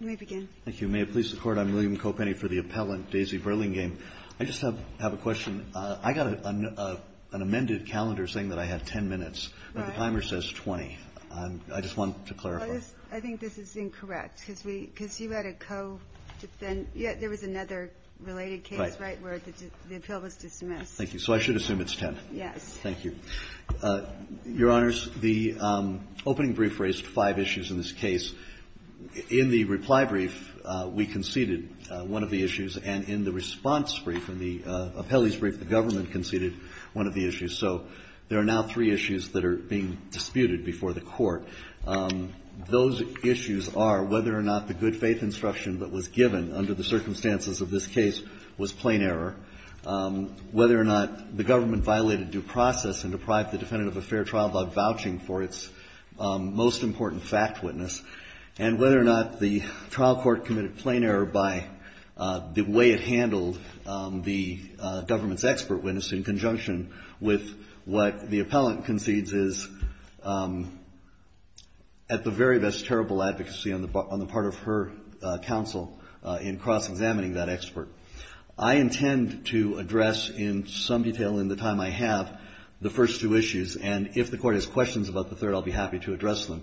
Thank you. May it please the Court, I'm William Kopeny for the appellant, Daisy Burlingame. I just have a question. I got an amended calendar saying that I have ten minutes. Right. But the timer says 20. I just wanted to clarify. I think this is incorrect, because we – because you had a co-defendant – yeah, there was another related case, right, where the appeal was dismissed. Thank you. So I should assume it's ten. Yes. Thank you. Your Honors, the opening brief raised five issues in this case. In the reply brief, we conceded one of the issues, and in the response brief, in the appellee's brief, the government conceded one of the issues. So there are now three issues that are being disputed before the Court. Those issues are whether or not the good faith instruction that was given under the circumstances of this case was plain error, whether or not the government violated due process and deprived the defendant of a fair trial by vouching for its most important fact witness, and whether or not the trial court committed plain error by the way it handled the government's expert witness in conjunction with what the appellant concedes is at the very best terrible advocacy on the part of her counsel in cross-examining that expert. I intend to address in some detail in the time I have the first two issues, and if the Court has questions about the third, I'll be happy to address them.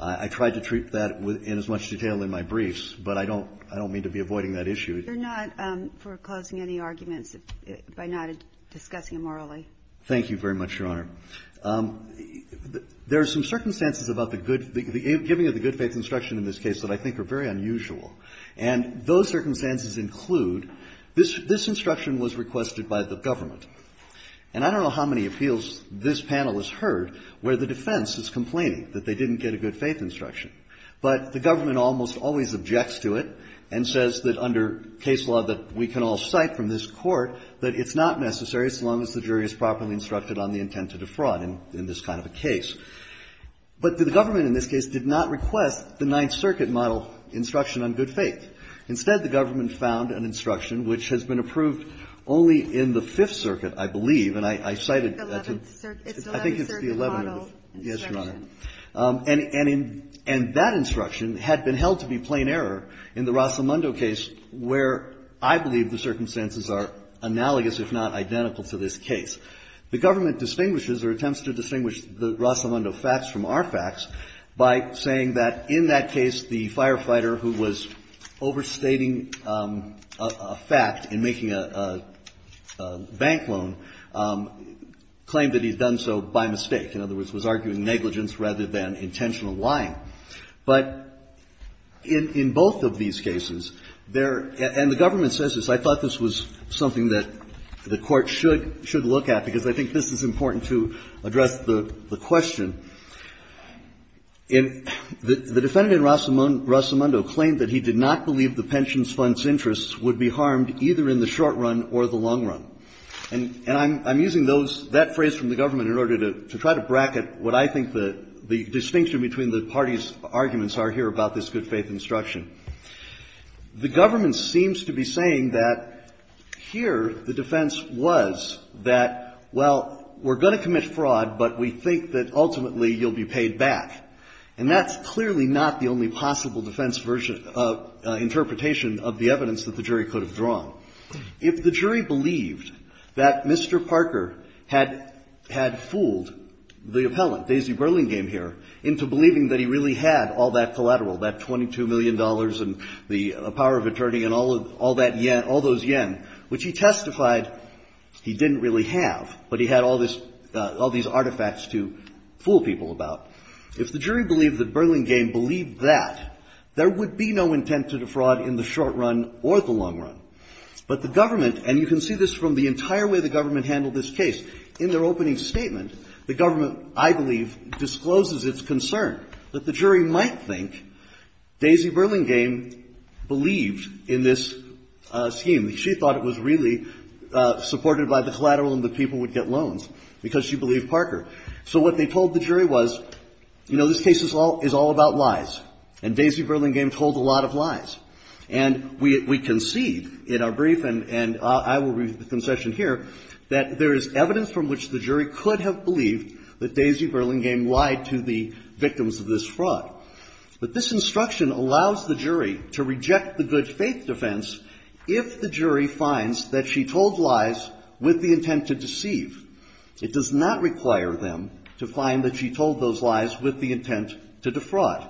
I tried to treat that in as much detail in my briefs, but I don't mean to be avoiding that issue. You're not foreclosing any arguments by not discussing them orally. Thank you very much, Your Honor. There are some circumstances about the good – the giving of the good faith instruction in this case that I think are very unusual. And those circumstances include this instruction was requested by the government. And I don't know how many appeals this panel has heard where the defense is complaining that they didn't get a good faith instruction, but the government almost always objects to it and says that under case law that we can all cite from this Court that it's not necessary so long as the jury is properly instructed on the intent to defraud in this kind of a case. But the government in this case did not request the Ninth Circuit model instruction on good faith. Instead, the government found an instruction which has been approved only in the Fifth Circuit, I believe, and I cited that to the 11th Circuit model instruction. And that instruction had been held to be plain error in the Rosamondo case, where I believe the circumstances are analogous, if not identical, to this case. The government distinguishes or attempts to distinguish the Rosamondo facts from our facts by saying that in that case the firefighter who was overstating a fact in making a bank loan claimed that he had done so by mistake. In other words, was arguing negligence rather than intentional lying. But in both of these cases, there – and the government says this. I thought this was something that the Court should look at, because I think this is important to address the question. The defendant in Rosamondo claimed that he did not believe the pensions fund's interests would be harmed either in the short run or the long run. And I'm using those – that phrase from the government in order to try to bracket what I think the distinction between the parties' arguments are here about this good faith instruction. The government seems to be saying that here the defense was that, well, we're going to commit fraud, but we think that ultimately you'll be paid back. And that's clearly not the only possible defense version of – interpretation of the evidence that the jury could have drawn. If the jury believed that Mr. Parker had – had fooled the appellant, Daisy Burlingame here, into believing that he really had all that collateral, that $22 million and the power of attorney and all of – all that – all those yen, which he testified he didn't really have, but he had all this – all these artifacts to fool people about. If the jury believed that Burlingame believed that, there would be no intent to defraud in the short run or the long run. But the government – and you can see this from the entire way the government handled this case. In their opening statement, the government, I believe, discloses its concern that the jury might think Daisy Burlingame believed in this scheme. She thought it was really supported by the collateral and the people would get loans because she believed Parker. So what they told the jury was, you know, this case is all – is all about lies. And Daisy Burlingame told a lot of lies. And we can see in our brief, and I will read the concession here, that there is evidence from which the jury could have believed that Daisy Burlingame lied to the victims of this fraud. But this instruction allows the jury to reject the good faith defense if the jury finds that she told lies with the intent to deceive. It does not require them to find that she told those lies with the intent to defraud.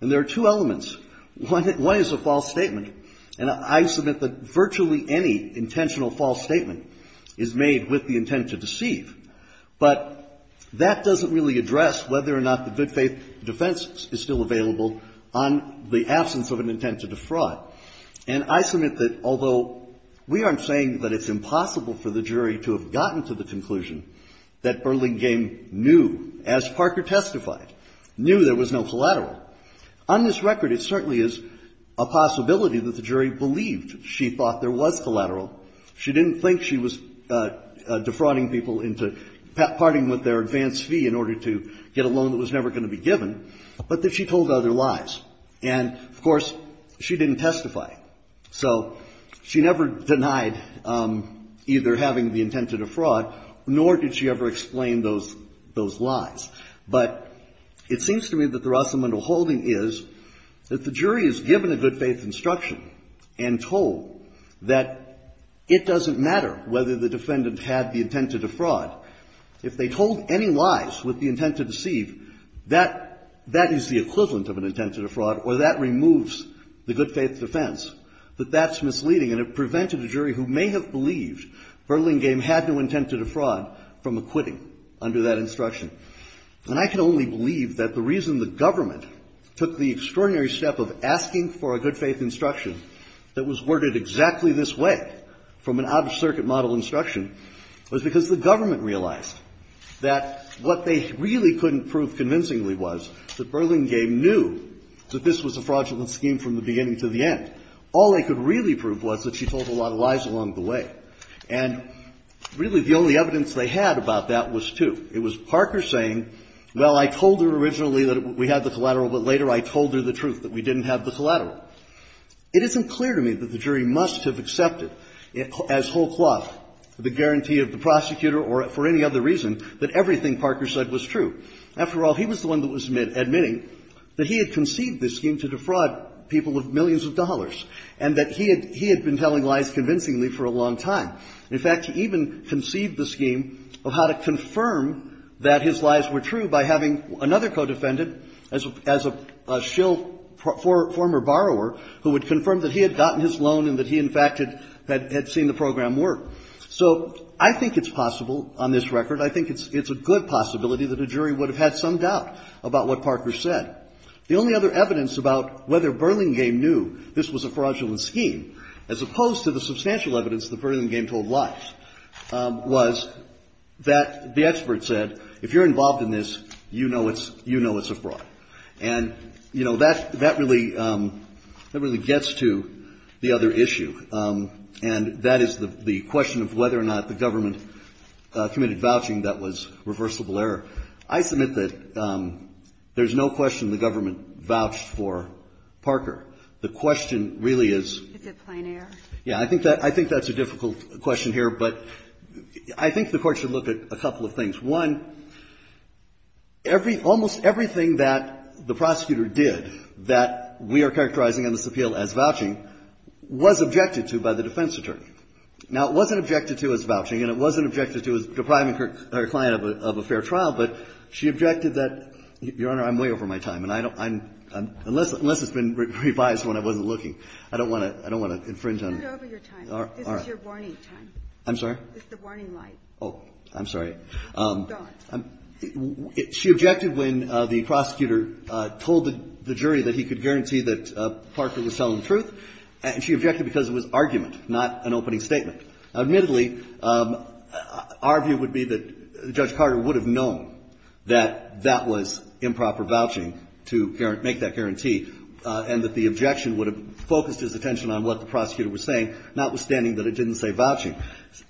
And there are two elements. One is a false statement. And I submit that virtually any intentional false statement is made with the intent to deceive. But that doesn't really address whether or not the good faith defense is still available on the absence of an intent to defraud. And I submit that although we aren't saying that it's impossible for the jury to have gotten to the conclusion that Burlingame knew, as Parker testified, knew there was no collateral, on this record, it certainly is a possibility that the jury believed she thought there was collateral. She didn't think she was defrauding people into parting with their advance fee in order to get a loan that was never going to be given, but that she told other lies. And, of course, she didn't testify. So she never denied either having the intent to defraud, nor did she ever explain those lies. But it seems to me that the Rosamondo holding is that the jury is given a good faith instruction and told that it doesn't matter whether the defendant had the intent to defraud. If they told any lies with the intent to deceive, that is the equivalent of an intent to defraud, or that removes the good faith defense. But that's misleading, and it prevented a jury who may have believed Burlingame had no intent to defraud from acquitting under that instruction. And I can only believe that the reason the government took the extraordinary step of asking for a good faith instruction that was worded exactly this way from an out-of-circuit model instruction was because the government realized that what they really couldn't prove convincingly was that Burlingame knew that this was a fraudulent scheme from the beginning to the end. All they could really prove was that she told a lot of lies along the way. And really, the only evidence they had about that was two. It was Parker saying, well, I told her originally that we had the collateral, but later I told her the truth, that we didn't have the collateral. It isn't clear to me that the jury must have accepted as whole cloth the guarantee of the prosecutor or for any other reason that everything Parker said was true. After all, he was the one that was admitting that he had conceived this scheme to defraud people of millions of dollars and that he had been telling lies convincingly for a long time. In fact, he even conceived the scheme of how to confirm that his lies were true by having another co-defendant as a shill former borrower who would confirm that he had gotten his loan and that he, in fact, had seen the program work. So I think it's possible on this record. I think it's a good possibility that a jury would have had some doubt about what Parker said. The only other evidence about whether Burlingame knew this was a fraudulent scheme, as opposed to the substantial evidence that Burlingame told lies, was that the expert said, if you're involved in this, you know it's a fraud. And, you know, that really gets to the other issue, and that is the question of whether or not the government committed vouching that was reversible error. I submit that there's no question the government vouched for Parker. The question really is the plan here. Yeah. I think that's a difficult question here, but I think the Court should look at a couple of things. One, every almost everything that the prosecutor did that we are characterizing in this appeal as vouching was objected to by the defense attorney. Now, it wasn't objected to as vouching, and it wasn't objected to as depriving her client of a fair trial, but she objected that, Your Honor, I'm way over my time, and I don't unless it's been revised when I wasn't looking, I don't want to I don't want to infringe on your time. I'm sorry. It's the warning light. Oh, I'm sorry. She objected when the prosecutor told the jury that he could guarantee that Parker was telling the truth, and she objected because it was argument, not an opening statement. Admittedly, our view would be that Judge Carter would have known that that was improper vouching to make that guarantee, and that the objection would have focused his attention on what the prosecutor was saying, notwithstanding that it didn't say vouching.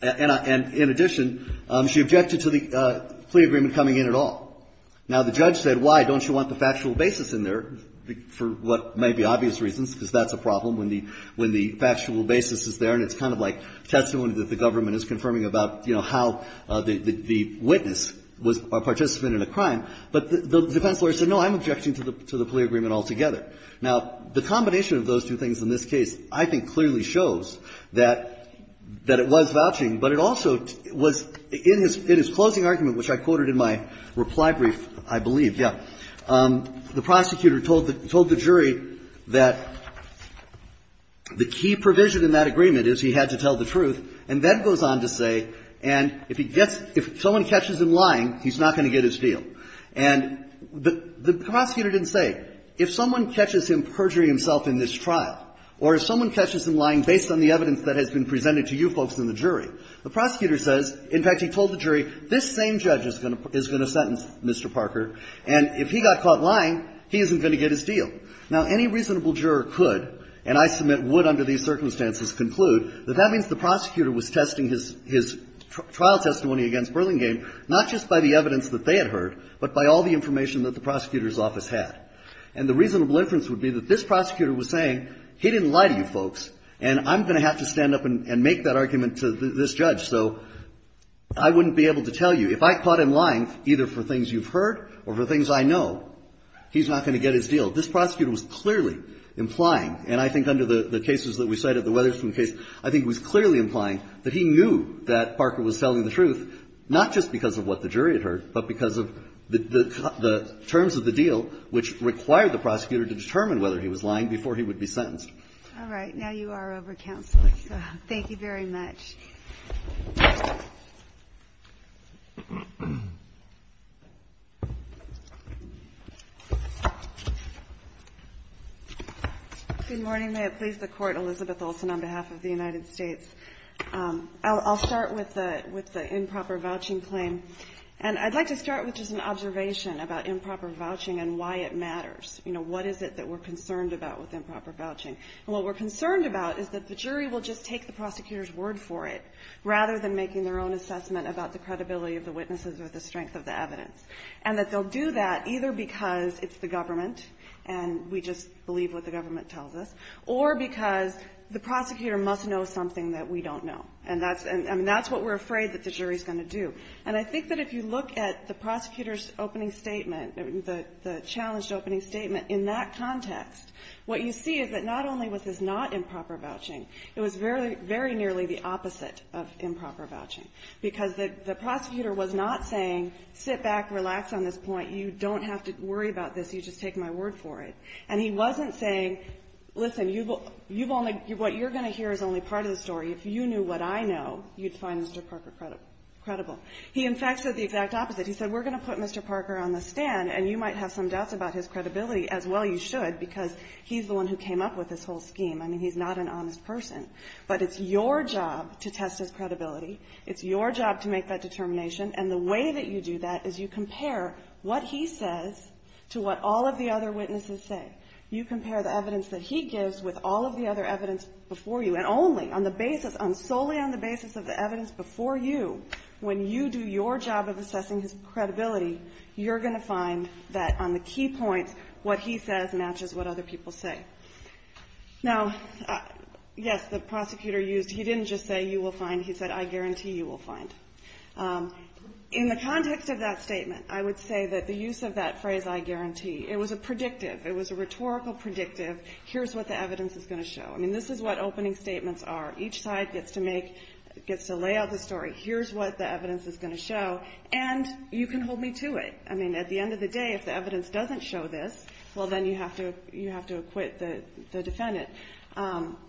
And in addition, she objected to the plea agreement coming in at all. Now, the judge said, why don't you want the factual basis in there, for what may be obvious reasons, because that's a problem when the factual basis is there, and it's kind of like testimony that the government is confirming about, you know, how the witness was a participant in a crime. But the defense lawyer said, no, I'm objecting to the plea agreement altogether. Now, the combination of those two things in this case, I think, clearly shows that it was vouching, but it also was, in his closing argument, which I quoted in my reply brief, I believe, yeah, the prosecutor told the jury that the key provision in that agreement is he had to tell the truth, and then goes on to say, and if he gets – if someone catches him lying, he's not going to get his deal. And the prosecutor didn't say, if someone catches him perjury himself in this trial, or if someone catches him lying based on the evidence that has been presented to you folks in the jury, the prosecutor says, in fact, he told the jury, this same judge is going to sentence Mr. Parker, and if he got caught lying, he isn't going to get his deal. Now, any reasonable juror could, and I submit would under these circumstances, conclude that that means the prosecutor was testing his trial testimony against Berlinghame, not just by the evidence that they had heard, but by all the information that the prosecutor's office had. And the reasonable inference would be that this prosecutor was saying, he didn't lie to you folks, and I'm going to have to stand up and make that argument to this judge. So I wouldn't be able to tell you, if I caught him lying, either for things you've heard or for things I know, he's not going to get his deal. This prosecutor was clearly implying, and I think under the cases that we cited, the Weatherspoon case, I think it was clearly implying that he knew that Parker was telling the truth, not just because of what the jury had heard, but because of the terms of the deal, which required the prosecutor to determine whether he was lying before he would be sentenced. All right. Now you are over, Counsel. Thank you very much. Good morning. May it please the Court. Elizabeth Olsen on behalf of the United States. I'll start with the improper vouching claim. And I'd like to start with just an observation about improper vouching and why it matters. You know, what is it that we're concerned about with improper vouching? And what we're concerned about is that the jury will just take the prosecutor's word for it, rather than making their own assessment about the credibility of the witnesses or the strength of the evidence. And that they'll do that either because it's the government, and we just believe what the government tells us, or because the prosecutor must know something that we don't know. And that's what we're afraid that the jury is going to do. And I think that if you look at the prosecutor's opening statement, the challenged opening statement, in that context, what you see is that not only was this not improper vouching, it was very nearly the opposite of improper vouching, because the prosecutor was not saying, sit back, relax on this point, you don't have to worry about this, you just take my word for it. And he wasn't saying, listen, you've only – what you're going to hear is only part of the story. If you knew what I know, you'd find Mr. Parker credible. He, in fact, said the exact opposite. He said, we're going to put Mr. Parker on the stand, and you might have some doubts about his credibility, as well you should, because he's the one who came up with this whole scheme. I mean, he's not an honest person. But it's your job to test his credibility. It's your job to make that determination. And the way that you do that is you compare what he says to what all of the other witnesses say. You compare the evidence that he gives with all of the other evidence before you, and only on the basis – solely on the basis of the evidence before you, when you do your job of assessing his credibility, you're going to find that on the key points, what he says matches what other people say. Now, yes, the prosecutor used – he didn't just say, you will find. He said, I guarantee you will find. In the context of that statement, I would say that the use of that phrase, I guarantee, it was a predictive. It was a rhetorical predictive. Here's what the evidence is going to show. I mean, this is what opening statements are. Each side gets to make – gets to lay out the story. Here's what the evidence is going to show. And you can hold me to it. I mean, at the end of the day, if the evidence doesn't show this, well, then you have to – you have to acquit the defendant.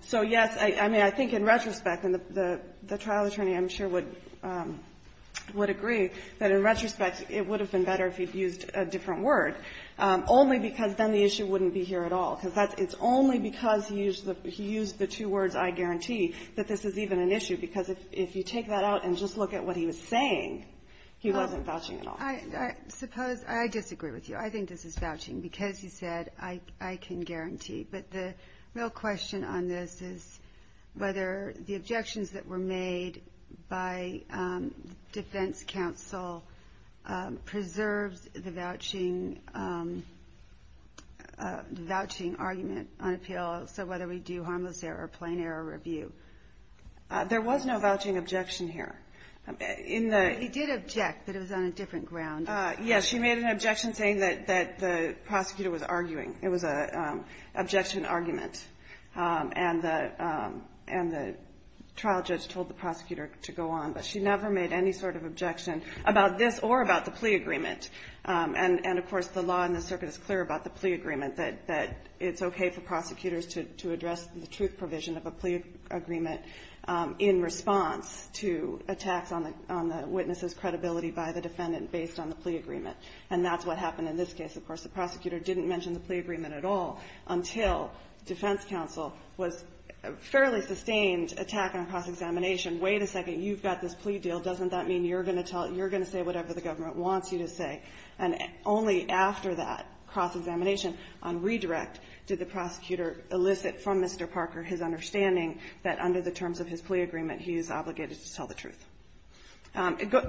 So, yes, I mean, I think in retrospect, and the trial attorney, I'm sure, would agree that in retrospect, it would have been better if he'd used a different word, only because then the issue wouldn't be here at all, because that's – it's only because he used the – he used the two words, I guarantee, that this is even an issue. Because if you take that out and just look at what he was saying, he wasn't vouching at all. I suppose – I disagree with you. I think this is vouching. Because you said, I can guarantee, but the real question on this is whether the objections that were made by defense counsel preserves the vouching – the vouching argument on appeal, so whether we do harmless error or plain error review. There was no vouching objection here. In the – He did object, but it was on a different ground. Yes. She made an objection saying that the prosecutor was arguing. It was an objection argument. And the trial judge told the prosecutor to go on, but she never made any sort of objection about this or about the plea agreement. And of course, the law in the circuit is clear about the plea agreement, that it's okay for prosecutors to address the truth provision of a plea agreement in response to attacks on the witness's credibility by the defendant based on the plea agreement. And that's what happened in this case. Of course, the prosecutor didn't mention the plea agreement at all until defense counsel was – fairly sustained attack on cross-examination. Wait a second. You've got this plea deal. Doesn't that mean you're going to tell – you're going to say whatever the government wants you to say? And only after that cross-examination on redirect did the prosecutor elicit from Mr. Parker his understanding that under the terms of his plea agreement, he is obligated to tell the truth.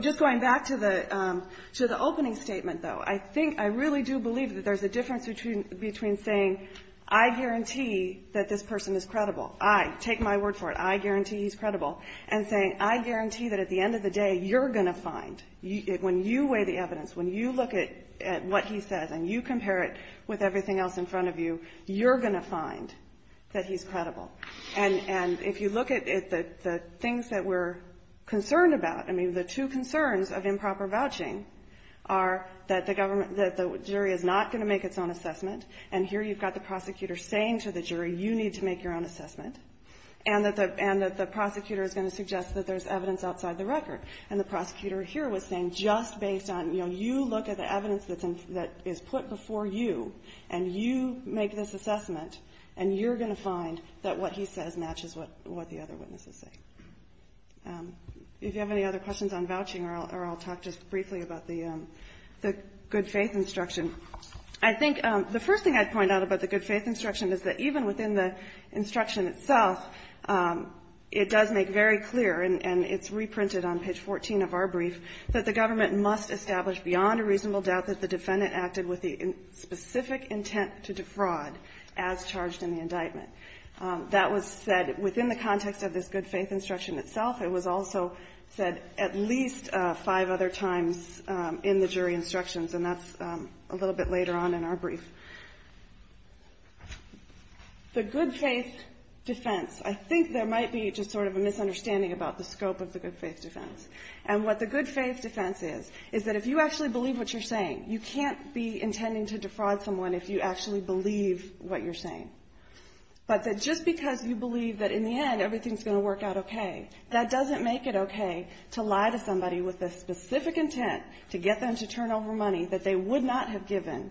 Just going back to the – to the opening statement, though, I think – I really do believe that there's a difference between saying, I guarantee that this person is credible, I, take my word for it, I guarantee he's credible, and saying, I guarantee that at the end of the day, you're going to find, when you weigh the evidence, when you look at what he says and you compare it with everything else in front of you, you're going to find that he's credible. And if you look at the things that we're concerned about, I mean, the two concerns of improper vouching are that the government – that the jury is not going to make its own assessment, and here you've got the prosecutor saying to the jury, you need to make your own assessment, and that the prosecutor is going to suggest that there's evidence outside the record, and the prosecutor here was saying just based on, you know, what he says matches what the other witnesses say. If you have any other questions on vouching or I'll talk just briefly about the good faith instruction, I think the first thing I'd point out about the good faith instruction is that even within the instruction itself, it does make very clear, and it's reprinted on page 14 of our brief, that the government must establish beyond a reasonable doubt that the defendant acted with the specific intent to defraud as charged in the indictment. That was said within the context of this good faith instruction itself. It was also said at least five other times in the jury instructions, and that's a little bit later on in our brief. The good faith defense. I think there might be just sort of a misunderstanding about the scope of the good faith instruction. I mean, you can't be intending to defraud someone if you actually believe what you're saying. But that just because you believe that in the end everything's going to work out okay, that doesn't make it okay to lie to somebody with a specific intent to get them to turn over money that they would not have given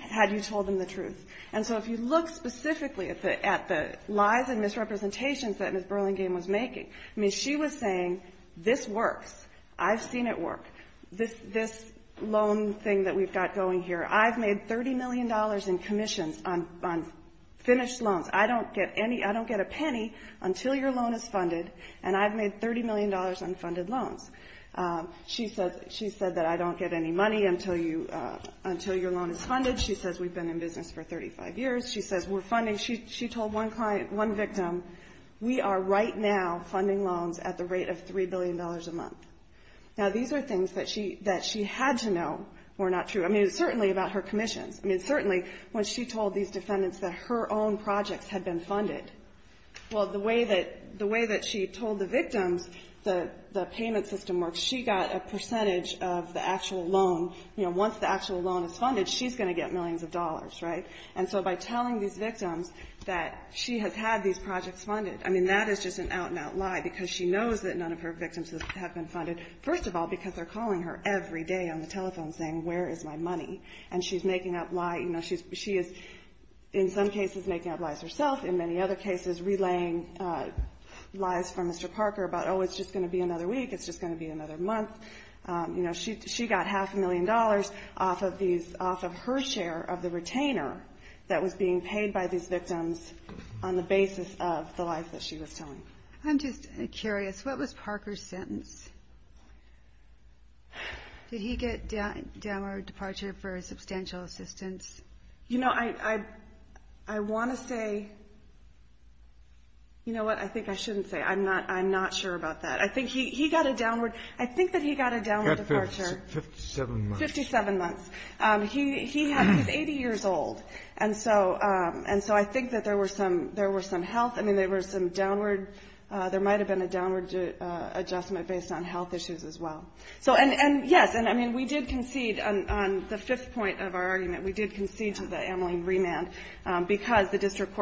had you told them the truth. And so if you look specifically at the lies and misrepresentations that Ms. Burlingame was making, I mean, she was saying this works. I've seen it work. This loan thing that we've got going here, I've made $30 million in commissions on finished loans. I don't get any — I don't get a penny until your loan is funded, and I've made $30 million on funded loans. She said that I don't get any money until you — until your loan is funded. She says we've been in business for 35 years. She says we're funding — she told one client, one victim, we are right now funding loans at the rate of $3 billion a month. Now, these are things that she had to know were not true. I mean, it was certainly about her commissions. I mean, certainly when she told these defendants that her own projects had been funded. Well, the way that she told the victims the payment system works, she got a percentage of the actual loan. You know, once the payment system works, she's telling these victims that she has had these projects funded. I mean, that is just an out-and-out lie, because she knows that none of her victims have been funded. First of all, because they're calling her every day on the telephone saying, where is my money? And she's making up lies. You know, she is, in some cases, making up lies herself. In many other cases, relaying lies from Mr. Parker about, oh, it's just going to be another week. It's just going to be another month. You know, she got half a million dollars off of her share of the retainer that was being paid by these victims on the basis of the lies that she was telling. I'm just curious. What was Parker's sentence? Did he get downward departure for substantial assistance? You know, I want to say, you know what, I think I shouldn't say. I'm not sure about that. I think he got a downward – I think that he got a downward departure. He got 57 months. Fifty-seven months. He was 80 years old. And so I think that there were some health – I mean, there were some downward – there might have been a downward adjustment based on health issues as well. So, and, yes, and I mean, we did concede on the fifth point of our argument. We did concede to the Ameline remand, because the district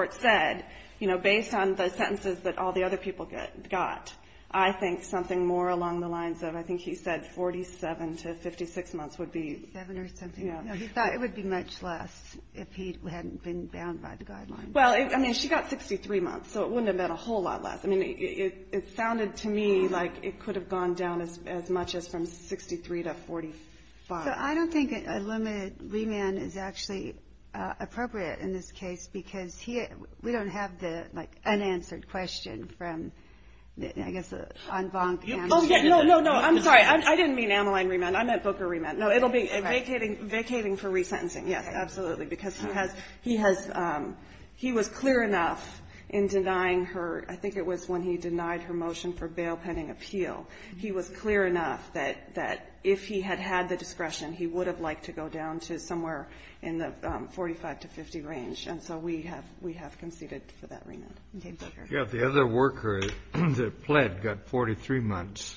sentences that all the other people got, I think something more along the lines of, I think he said 47 to 56 months would be – Seven or something. Yeah. No, he thought it would be much less if he hadn't been bound by the guidelines. Well, I mean, she got 63 months, so it wouldn't have been a whole lot less. I mean, it sounded to me like it could have gone down as much as from 63 to 45. So I don't think a limited remand is actually appropriate in this case, because we don't have the, like, unanswered question from, I guess, the en banc. Oh, yeah. No, no, no. I'm sorry. I didn't mean Ameline remand. I meant Booker remand. No, it'll be vacating for resentencing. Yes, absolutely. Because he has – he was clear enough in denying her – I think it was when he denied her motion for bail pending appeal. He was clear enough that if he had had the discretion, he would have liked to go down to somewhere in the 45 to 50 range. And so we have conceded for that remand. Yeah, the other worker that pled got 43 months.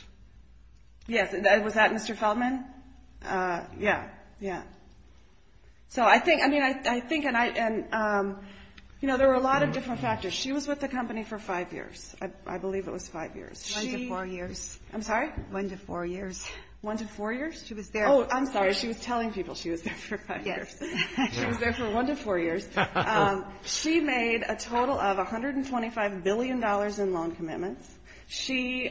Yes. Was that Mr. Feldman? Yeah. Yeah. So I think – I mean, I think – and, you know, there were a lot of different factors. She was with the company for five years. I believe it was five years. One to four years. I'm sorry? One to four years. One to four years? She was there – Oh, I'm sorry. She was telling people she was there for five years. Yes. She was there for one to four years. She made a total of $125 billion in loan commitments. She –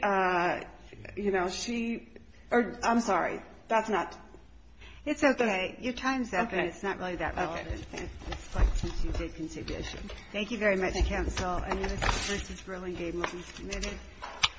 you know, she – I'm sorry. That's not – It's okay. Your time's up, and it's not really that relevant. Okay. Okay. It's quite since you did contribution. Thank you very much, counsel. Thank you.